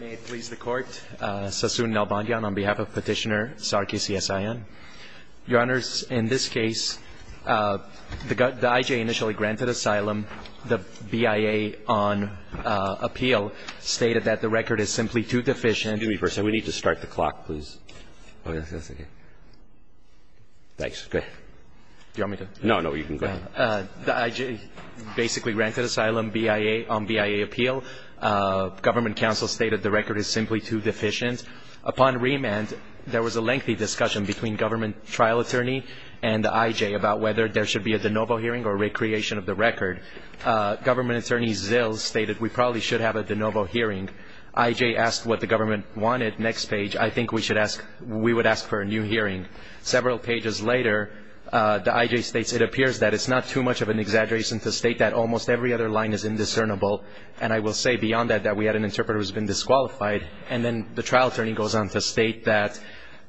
May it please the Court, Sassoon Nalbandian on behalf of Petitioner Sarkis Yasaian. Your Honors, in this case, the I.J. initially granted asylum. The B.I.A. on appeal stated that the record is simply too deficient. Excuse me for a second. We need to start the clock, please. Thanks. Go ahead. Do you want me to? No, no, you can go ahead. The I.J. basically granted asylum, B.I.A. on B.I.A. appeal. Government counsel stated the record is simply too deficient. Upon remand, there was a lengthy discussion between government trial attorney and the I.J. about whether there should be a de novo hearing or a recreation of the record. Government attorney Zills stated we probably should have a de novo hearing. I.J. asked what the government wanted. Next page, I think we would ask for a new hearing. Several pages later, the I.J. states, it appears that it's not too much of an exaggeration to state that almost every other line is indiscernible, and I will say beyond that that we had an interpreter who has been disqualified. And then the trial attorney goes on to state that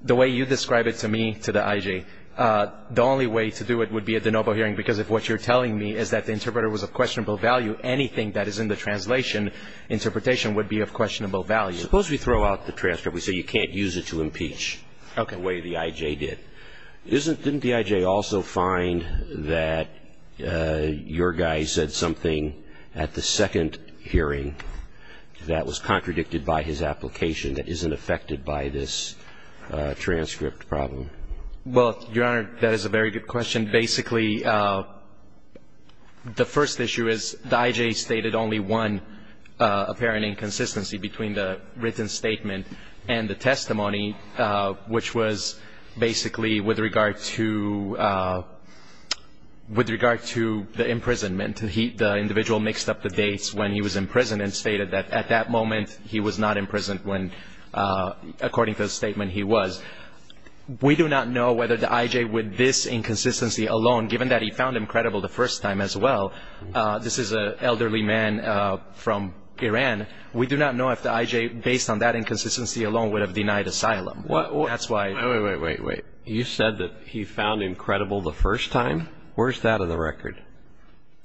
the way you describe it to me, to the I.J., the only way to do it would be a de novo hearing, because if what you're telling me is that the interpreter was of questionable value, anything that is in the translation interpretation would be of questionable value. Suppose we throw out the transcript. We say you can't use it to impeach the way the I.J. did. Didn't the I.J. also find that your guy said something at the second hearing that was contradicted by his application that isn't affected by this transcript problem? Well, Your Honor, that is a very good question. Basically, the first issue is the I.J. stated only one apparent inconsistency between the written statement and the testimony, which was basically with regard to the imprisonment. The individual mixed up the dates when he was in prison and stated that at that moment he was not in prison when, according to the statement, he was. We do not know whether the I.J. with this inconsistency alone, given that he found him credible the first time as well, this is an elderly man from Iran, we do not know if the I.J. based on that inconsistency alone would have denied asylum. Wait, wait, wait. You said that he found him credible the first time? Where's that in the record?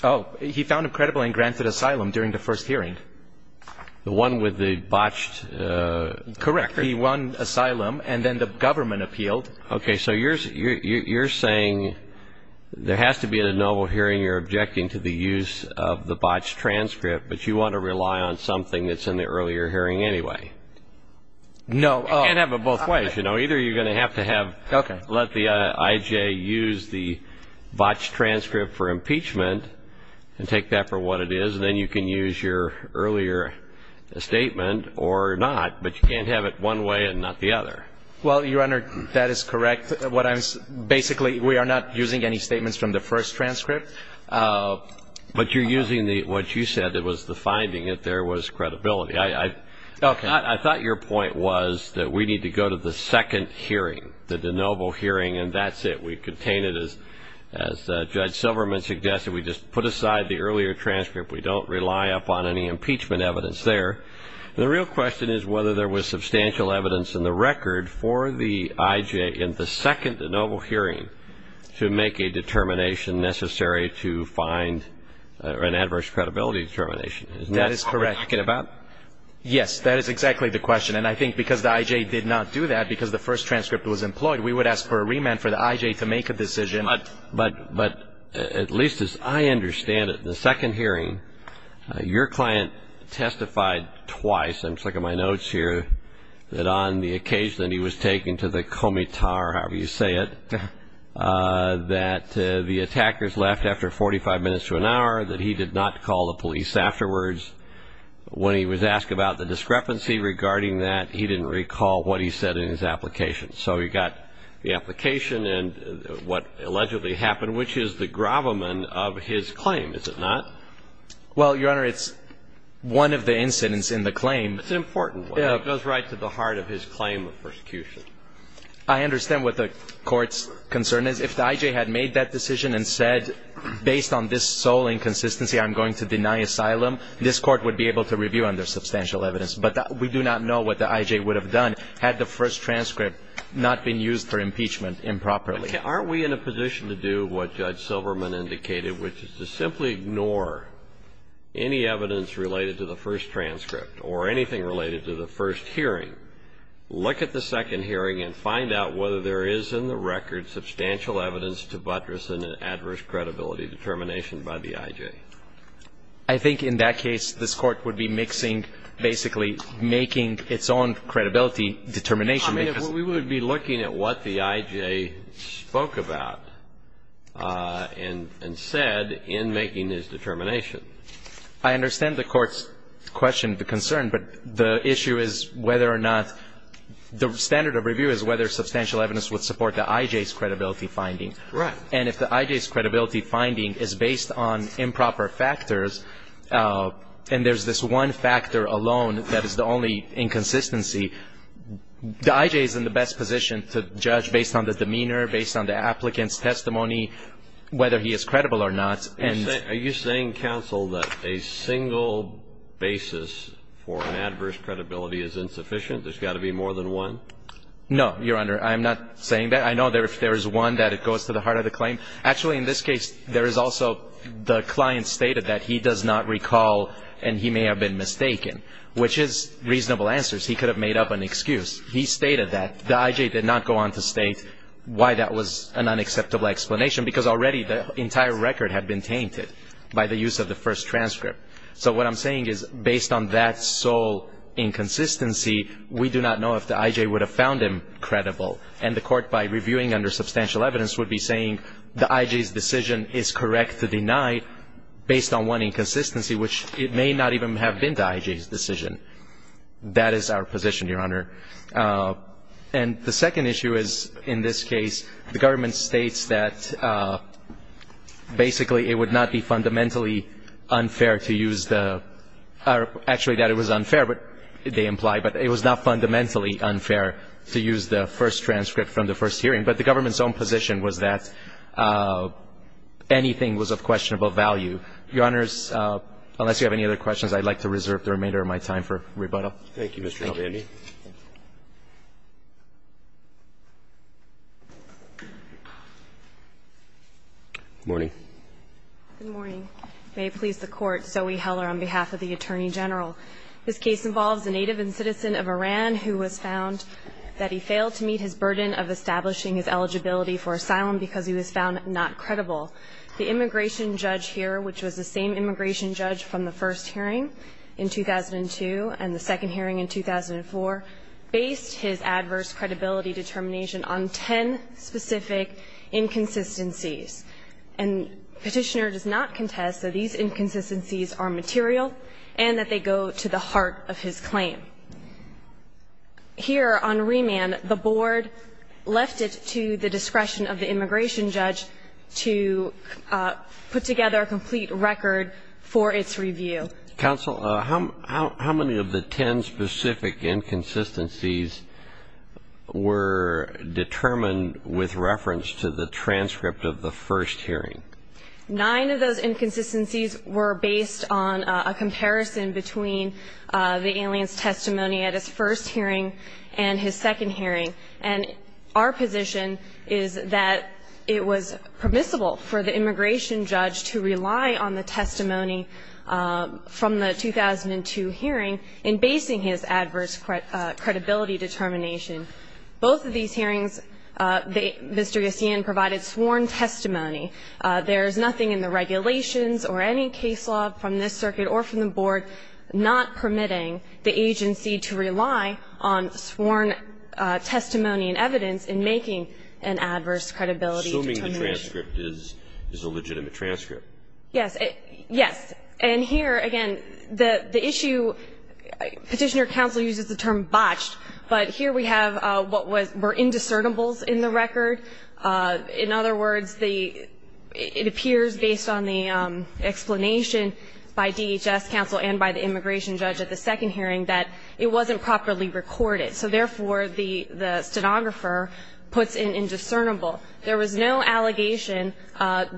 Oh, he found him credible and granted asylum during the first hearing. The one with the botched record? Correct. He won asylum, and then the government appealed. Okay. So you're saying there has to be at a noble hearing you're objecting to the use of the botched transcript, but you want to rely on something that's in the earlier hearing anyway? No. You can't have it both ways. Either you're going to have to have let the I.J. use the botched transcript for impeachment and take that for what it is, and then you can use your earlier statement or not, but you can't have it one way and not the other. Well, Your Honor, that is correct. Basically, we are not using any statements from the first transcript. But you're using what you said was the finding that there was credibility. Okay. I thought your point was that we need to go to the second hearing, the de novo hearing, and that's it. We contain it as Judge Silverman suggested. We just put aside the earlier transcript. We don't rely upon any impeachment evidence there. The real question is whether there was substantial evidence in the record for the I.J. in the second de novo hearing to make a determination necessary to find an adverse credibility determination. That is correct. Isn't that what we're talking about? Yes. That is exactly the question. And I think because the I.J. did not do that, because the first transcript was employed, we would ask for a remand for the I.J. to make a decision. But at least as I understand it, the second hearing, your client testified twice, I'm checking my notes here, that on the occasion that he was taken to the comitar, however you say it, that the attackers left after 45 minutes to an hour, that he did not call the police afterwards. When he was asked about the discrepancy regarding that, he didn't recall what he said in his application. So he got the application and what allegedly happened, which is the gravamen of his claim, is it not? Well, Your Honor, it's one of the incidents in the claim. It's an important one. It goes right to the heart of his claim of persecution. I understand what the Court's concern is. If the I.J. had made that decision and said, based on this sole inconsistency, I'm going to deny asylum, this Court would be able to review under substantial evidence. But we do not know what the I.J. would have done had the first transcript not been used for impeachment improperly. Aren't we in a position to do what Judge Silverman indicated, which is to simply ignore any evidence related to the first transcript or anything related to the first hearing, look at the second hearing and find out whether there is in the record substantial evidence to buttress an adverse credibility determination by the I.J.? I think in that case, this Court would be mixing, basically making its own credibility determination. I mean, we would be looking at what the I.J. spoke about and said in making his determination. I understand the Court's question, the concern. But the issue is whether or not the standard of review is whether substantial evidence would support the I.J.'s credibility finding. Right. And if the I.J.'s credibility finding is based on improper factors and there's this one factor alone that is the only inconsistency, the I.J. is in the best position to judge based on the demeanor, based on the applicant's testimony, whether he is credible or not. Are you saying, counsel, that a single basis for an adverse credibility is insufficient? There's got to be more than one? No, Your Honor. I'm not saying that. I know there is one that goes to the heart of the claim. Actually, in this case, there is also the client stated that he does not recall and he may have been mistaken, which is reasonable answers. He could have made up an excuse. He stated that. The I.J. did not go on to state why that was an unacceptable explanation because already the entire record had been tainted by the use of the first transcript. So what I'm saying is based on that sole inconsistency, we do not know if the I.J. would have found him credible. And the Court, by reviewing under substantial evidence, would be saying the I.J.'s decision is correct to deny based on one inconsistency, which it may not even have been the I.J.'s decision. That is our position, Your Honor. And the second issue is, in this case, the government states that basically it would not be fundamentally unfair to use the – or actually that it was unfair, they imply, but it was not fundamentally unfair to use the first transcript from the first hearing. But the government's own position was that anything was of questionable value. Your Honors, unless you have any other questions, I'd like to reserve the remainder of my time for rebuttal. Thank you, Mr. Alvandi. Good morning. Good morning. May it please the Court, Zoe Heller on behalf of the Attorney General. This case involves a native and citizen of Iran who was found that he failed to meet his burden of establishing his eligibility for asylum because he was found not credible. The immigration judge here, which was the same immigration judge from the first hearing in 2002 and the second hearing in 2004, based his adverse credibility determination on ten specific inconsistencies. And Petitioner does not contest that these inconsistencies are material and that they go to the heart of his claim. Here on remand, the board left it to the discretion of the immigration judge to put together a complete record for its review. Counsel, how many of the ten specific inconsistencies were determined with reference to the transcript of the first hearing? Nine of those inconsistencies were based on a comparison between the alien's testimony at his first hearing and his second hearing. And our position is that it was permissible for the immigration judge to rely on the testimony from the 2002 hearing in basing his adverse credibility determination. Both of these hearings, Mr. Yossian provided sworn testimony. There is nothing in the regulations or any case law from this circuit or from the board not permitting the agency to rely on sworn testimony and evidence in making an adverse credibility determination. Assuming the transcript is a legitimate transcript. Yes. Yes. And here, again, the issue, Petitioner Counsel uses the term botched, but here we have what were indiscernibles in the record. In other words, it appears based on the explanation by DHS Counsel and by the immigration judge at the second hearing that it wasn't properly recorded. So therefore, the stenographer puts an indiscernible. There was no allegation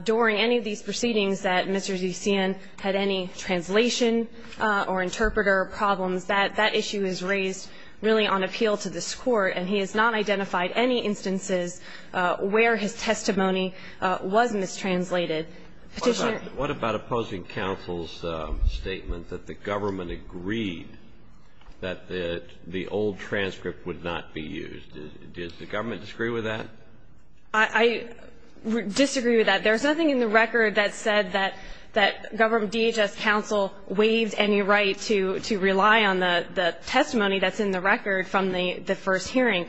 during any of these proceedings that Mr. Yossian had any translation or interpreter problems. That issue is raised really on appeal to this Court, and he has not identified any instances where his testimony was mistranslated. Petitioner? What about opposing counsel's statement that the government agreed that the old transcript would not be used? Does the government disagree with that? I disagree with that. There's nothing in the record that said that DHS Counsel waived any right to rely on the testimony that's in the record from the first hearing.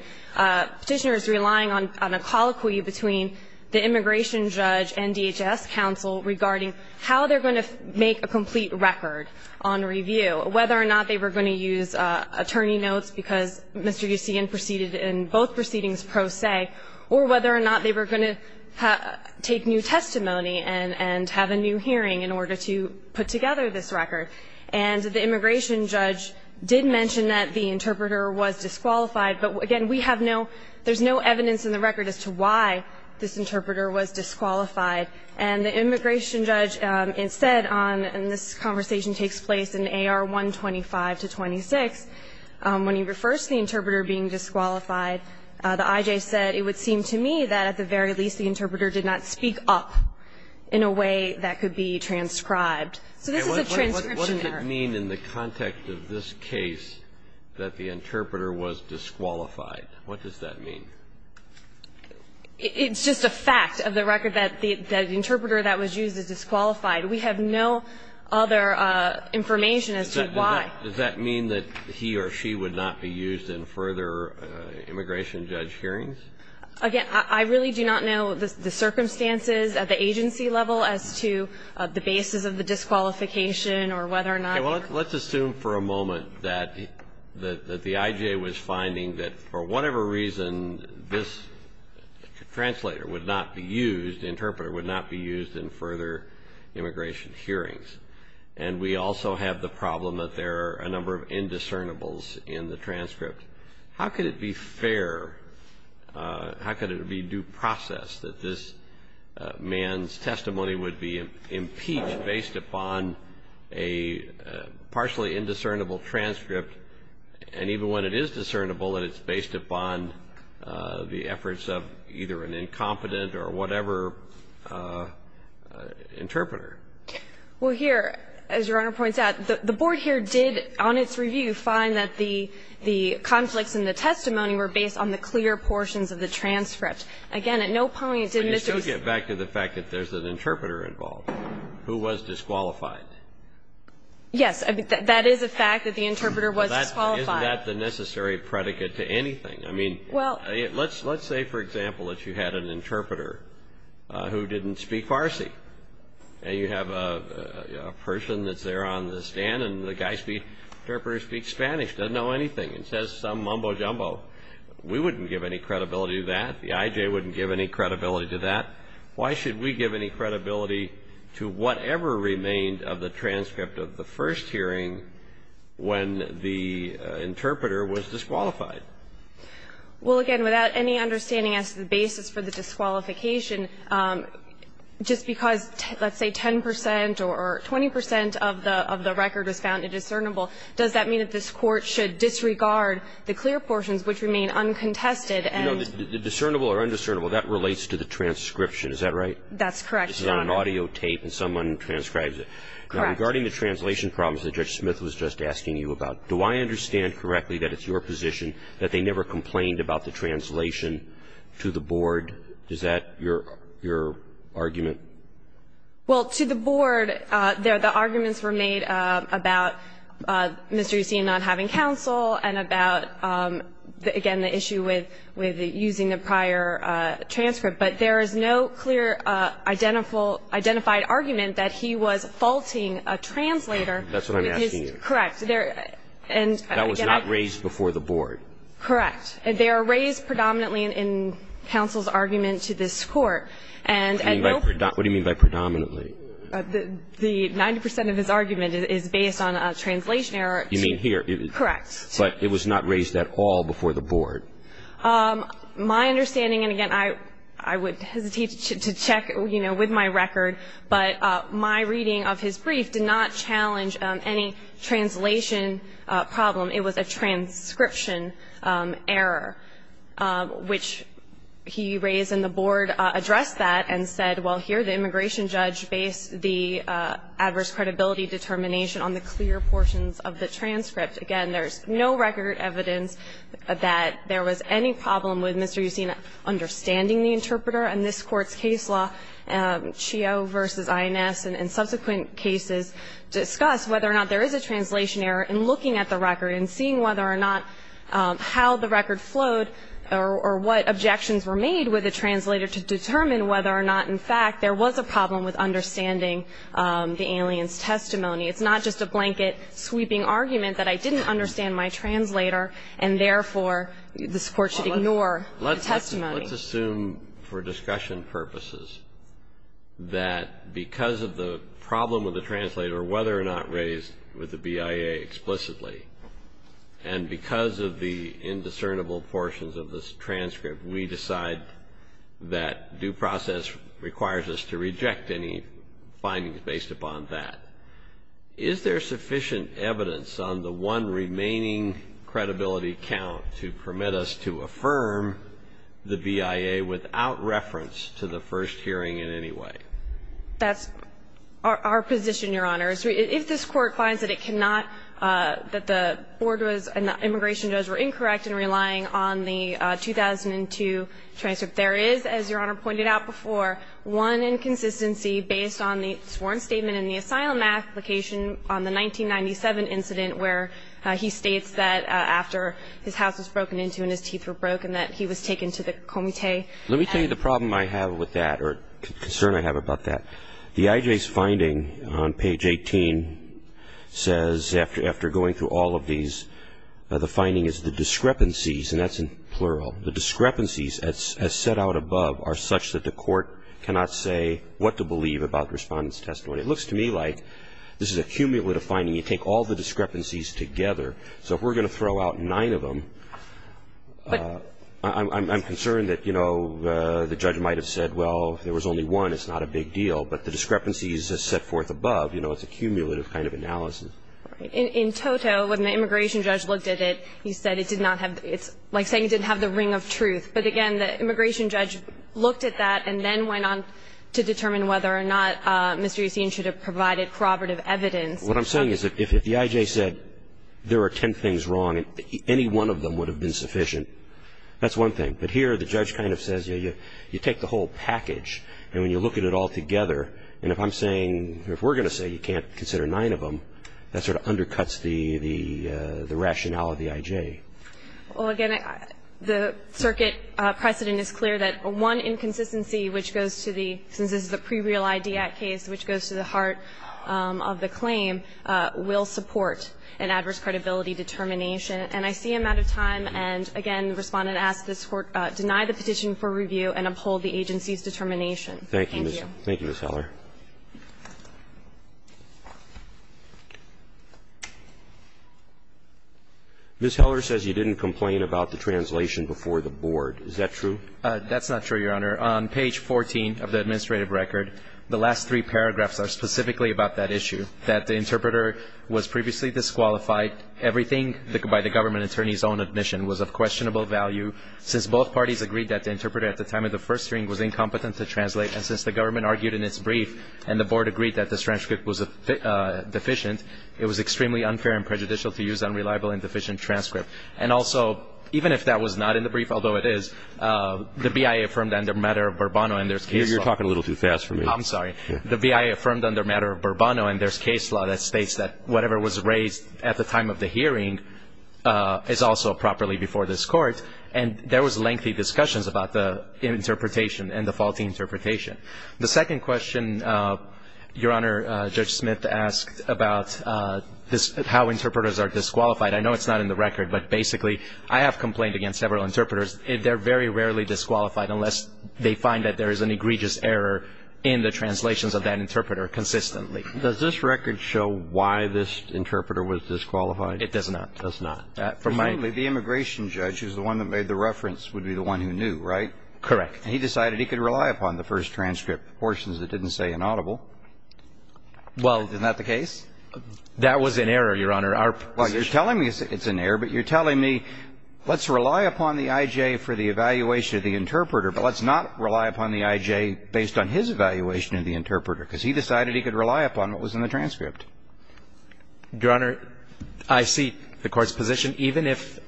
Petitioner is relying on a colloquy between the immigration judge and DHS Counsel regarding how they're going to make a complete record on review, whether or not they were going to use attorney notes because Mr. Yossian proceeded in both proceedings pro se, or whether or not they were going to take new testimony and have a new hearing in order to put together this record. And the immigration judge did mention that the interpreter was disqualified, but, again, we have no ‑‑ there's no evidence in the record as to why this interpreter was disqualified. And the immigration judge instead on ‑‑ and this conversation takes place in AR 125 to 26, when he refers to the interpreter being disqualified, the IJ said, it would seem to me that at the very least the interpreter did not speak up in a way that could be transcribed. So this is a transcription error. And what does it mean in the context of this case that the interpreter was disqualified? What does that mean? It's just a fact of the record that the interpreter that was used is disqualified. We have no other information as to why. Does that mean that he or she would not be used in further immigration judge hearings? Again, I really do not know the circumstances at the agency level as to the basis of the disqualification or whether or not Okay. Well, let's assume for a moment that the IJ was finding that for whatever reason, this translator would not be used, interpreter would not be used in further immigration hearings. And we also have the problem that there are a number of indiscernibles in the transcript. How could it be fair, how could it be due process that this man's testimony would be impeached based upon a partially indiscernible transcript, and even when it is discernible that it's based upon the efforts of either an incompetent or whatever interpreter? Well, here, as Your Honor points out, the Board here did, on its review, find that the conflicts in the testimony were based on the fact that there was an interpreter involved who was disqualified. Yes, that is a fact that the interpreter was disqualified. Isn't that the necessary predicate to anything? I mean, let's say, for example, that you had an interpreter who didn't speak Farsi, and you have a person that's there on the stand, and the interpreter speaks Spanish, doesn't know anything, and says some mumbo jumbo. We wouldn't give any credibility to that. The IJ wouldn't give any credibility to that. Why should we give any credibility to whatever remained of the transcript of the first hearing when the interpreter was disqualified? Well, again, without any understanding as to the basis for the disqualification, just because, let's say, 10 percent or 20 percent of the record was found indiscernible, does that mean that this Court should disregard the clear portions which remain uncontested? You know, discernible or indiscernible, that relates to the transcription. Is that right? That's correct, Your Honor. This is on an audio tape, and someone transcribes it. Correct. Now, regarding the translation problems that Judge Smith was just asking you about, do I understand correctly that it's your position that they never complained about the translation to the Board? Is that your argument? Well, to the Board, the arguments were made about Mr. Yossi not having counsel and about, again, the issue with using the prior transcript. But there is no clear identified argument that he was faulting a translator. That's what I'm asking you. Correct. That was not raised before the Board. Correct. They are raised predominantly in counsel's argument to this Court. What do you mean by predominantly? The 90 percent of his argument is based on a translation error. You mean here? Correct. But it was not raised at all before the Board? My understanding, and again, I would hesitate to check, you know, with my record, but my reading of his brief did not challenge any translation problem. It was a transcription error, which he raised and the Board addressed that and said, well, here the immigration judge based the adverse credibility determination on the clear portions of the transcript. Again, there's no record evidence that there was any problem with Mr. Yossi understanding the interpreter in this Court's case law, Chio v. INS, and subsequent cases discuss whether or not there is a translation error in looking at the record and seeing whether or not how the record flowed or what objections were made with the translator to determine whether or not in fact there was a problem with understanding the alien's testimony. It's not just a blanket sweeping argument that I didn't understand my translator and therefore this Court should ignore the testimony. Let's assume for discussion purposes that because of the problem with the translator whether or not raised with the BIA explicitly and because of the indiscernible portions of this transcript, we decide that due process requires us to reject any findings based upon that. Is there sufficient evidence on the one remaining credibility count to permit us to affirm the BIA without reference to the first hearing in any way? That's our position, Your Honor. If this Court finds that it cannot, that the board was and the immigration jurors were incorrect in relying on the 2002 transcript, there is, as Your Honor pointed out before, one inconsistency based on the sworn statement in the asylum application on the 1997 incident where he states that after his house was broken into and his teeth were broken that he was taken to the comité. Let me tell you the problem I have with that or concern I have about that. The IJ's finding on page 18 says after going through all of these, the finding is the discrepancies, and that's in plural, the discrepancies as set out above are such that the Court cannot say what to believe about the Respondent's testimony. It looks to me like this is a cumulative finding. You take all the discrepancies together. So if we're going to throw out nine of them, I'm concerned that, you know, the judge might have said, well, if there was only one, it's not a big deal. But the discrepancies as set forth above, you know, it's a cumulative kind of analysis. In toto, when the immigration judge looked at it, he said it did not have the – it's like saying it didn't have the ring of truth. But, again, the immigration judge looked at that and then went on to determine whether or not Mr. Yacine should have provided corroborative evidence. What I'm saying is if the IJ said there are ten things wrong and any one of them would have been sufficient, that's one thing. But here the judge kind of says, you know, you take the whole package and when you look at it all together, and if I'm saying – if we're going to say you can't consider nine of them, that sort of undercuts the rationale of the IJ. Well, again, the circuit precedent is clear that one inconsistency which goes to the – since this is a pre-real ID act case, which goes to the heart of the claim will support an adverse credibility determination. And I see I'm out of time. And, again, the Respondent asks this Court deny the petition for review and uphold the agency's determination. Thank you. Thank you, Ms. Heller. Ms. Heller says you didn't complain about the translation before the board. Is that true? That's not true, Your Honor. On page 14 of the administrative record, the last three paragraphs are specifically about that issue, that the interpreter was previously disqualified, everything by the government attorney's own admission was of questionable value. Since both parties agreed that the interpreter at the time of the first hearing was incompetent to translate, and since the government argued in its brief and the board agreed that the transcript was deficient, it was extremely unfair and prejudicial to use unreliable and deficient transcript. And also, even if that was not in the brief, although it is, the BIA affirmed under matter of Burbano and there's case law. You're talking a little too fast for me. I'm sorry. The BIA affirmed under matter of Burbano and there's case law that states that whatever was raised at the time of the hearing is also properly before this court. And there was lengthy discussions about the interpretation and the faulty interpretation. The second question, Your Honor, Judge Smith asked about how interpreters are disqualified. I know it's not in the record, but basically I have complained against several interpreters. They're very rarely disqualified unless they find that there is an egregious error in the translations of that interpreter consistently. Does this record show why this interpreter was disqualified? It does not. It does not. Presumably the immigration judge is the one that made the reference would be the one who knew, right? Correct. And he decided he could rely upon the first transcript portions that didn't say inaudible. Well. Isn't that the case? That was an error, Your Honor. Well, you're telling me it's an error, but you're telling me let's rely upon the I.J. for the evaluation of the interpreter, but let's not rely upon the I.J. based on his evaluation of the interpreter because he decided he could rely upon what was in the transcript. Your Honor, I see the Court's position. Even if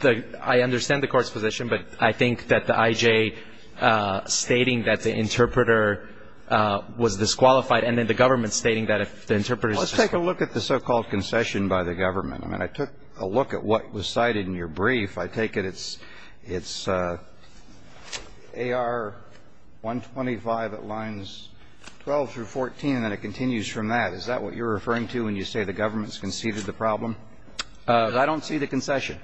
the – I understand the Court's position, but I think that the I.J. stating that the interpreter was disqualified and then the government stating that if the interpreter is disqualified. Well, let's take a look at the so-called concession by the government. I mean, I took a look at what was cited in your brief. If I take it, it's AR-125 at lines 12 through 14, and it continues from that. Is that what you're referring to when you say the government's conceded the problem? I don't see the concession.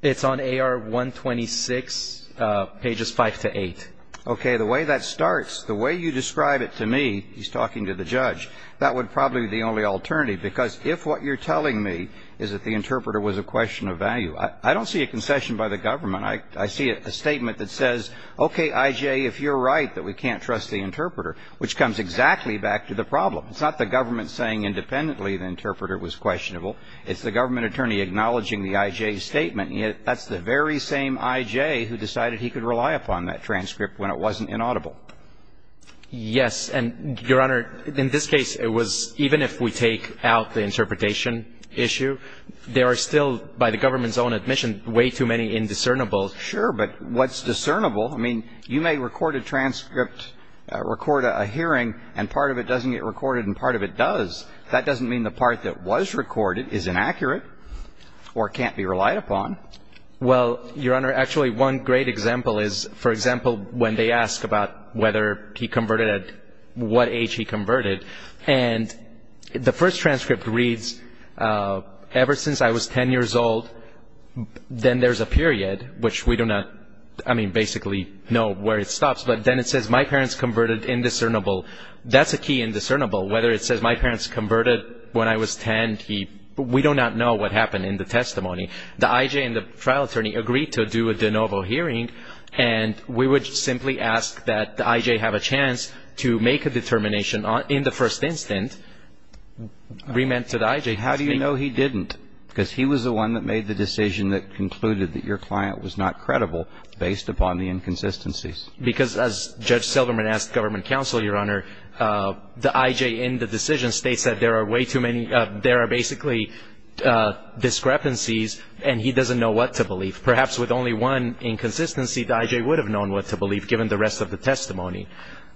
It's on AR-126, pages 5 to 8. Okay. The way that starts, the way you describe it to me, he's talking to the judge, that would probably be the only alternative, because if what you're telling me is that the interpreter was a question of value, I don't see a concession by the government. I see a statement that says, okay, I.J., if you're right that we can't trust the interpreter, which comes exactly back to the problem. It's not the government saying independently the interpreter was questionable. It's the government attorney acknowledging the I.J. statement. That's the very same I.J. who decided he could rely upon that transcript when it wasn't inaudible. Yes. And, Your Honor, in this case, it was even if we take out the interpretation issue, there are still, by the government's own admission, way too many indiscernible. Sure. But what's discernible, I mean, you may record a transcript, record a hearing, and part of it doesn't get recorded and part of it does. That doesn't mean the part that was recorded is inaccurate or can't be relied upon. Well, Your Honor, actually, one great example is, for example, when they ask about whether he converted at what age he converted. And the first transcript reads, ever since I was 10 years old, then there's a period, which we do not, I mean, basically know where it stops. But then it says my parents converted indiscernible. That's a key indiscernible, whether it says my parents converted when I was 10. We do not know what happened in the testimony. The I.J. and the trial attorney agreed to do a de novo hearing, and we would simply ask that the I.J. have a chance to make a determination in the first instant. We meant to the I.J. How do you know he didn't? Because he was the one that made the decision that concluded that your client was not credible, based upon the inconsistencies. Because, as Judge Silverman asked government counsel, Your Honor, the I.J. in the decision states that there are way too many, there are basically discrepancies and he doesn't know what to believe. Perhaps with only one inconsistency, the I.J. would have known what to believe, given the rest of the testimony.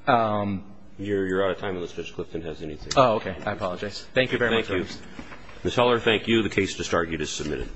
You're out of time unless Judge Clifton has anything. Oh, okay. I apologize. Thank you very much. Thank you. Ms. Heller, thank you. The case just argued is submitted.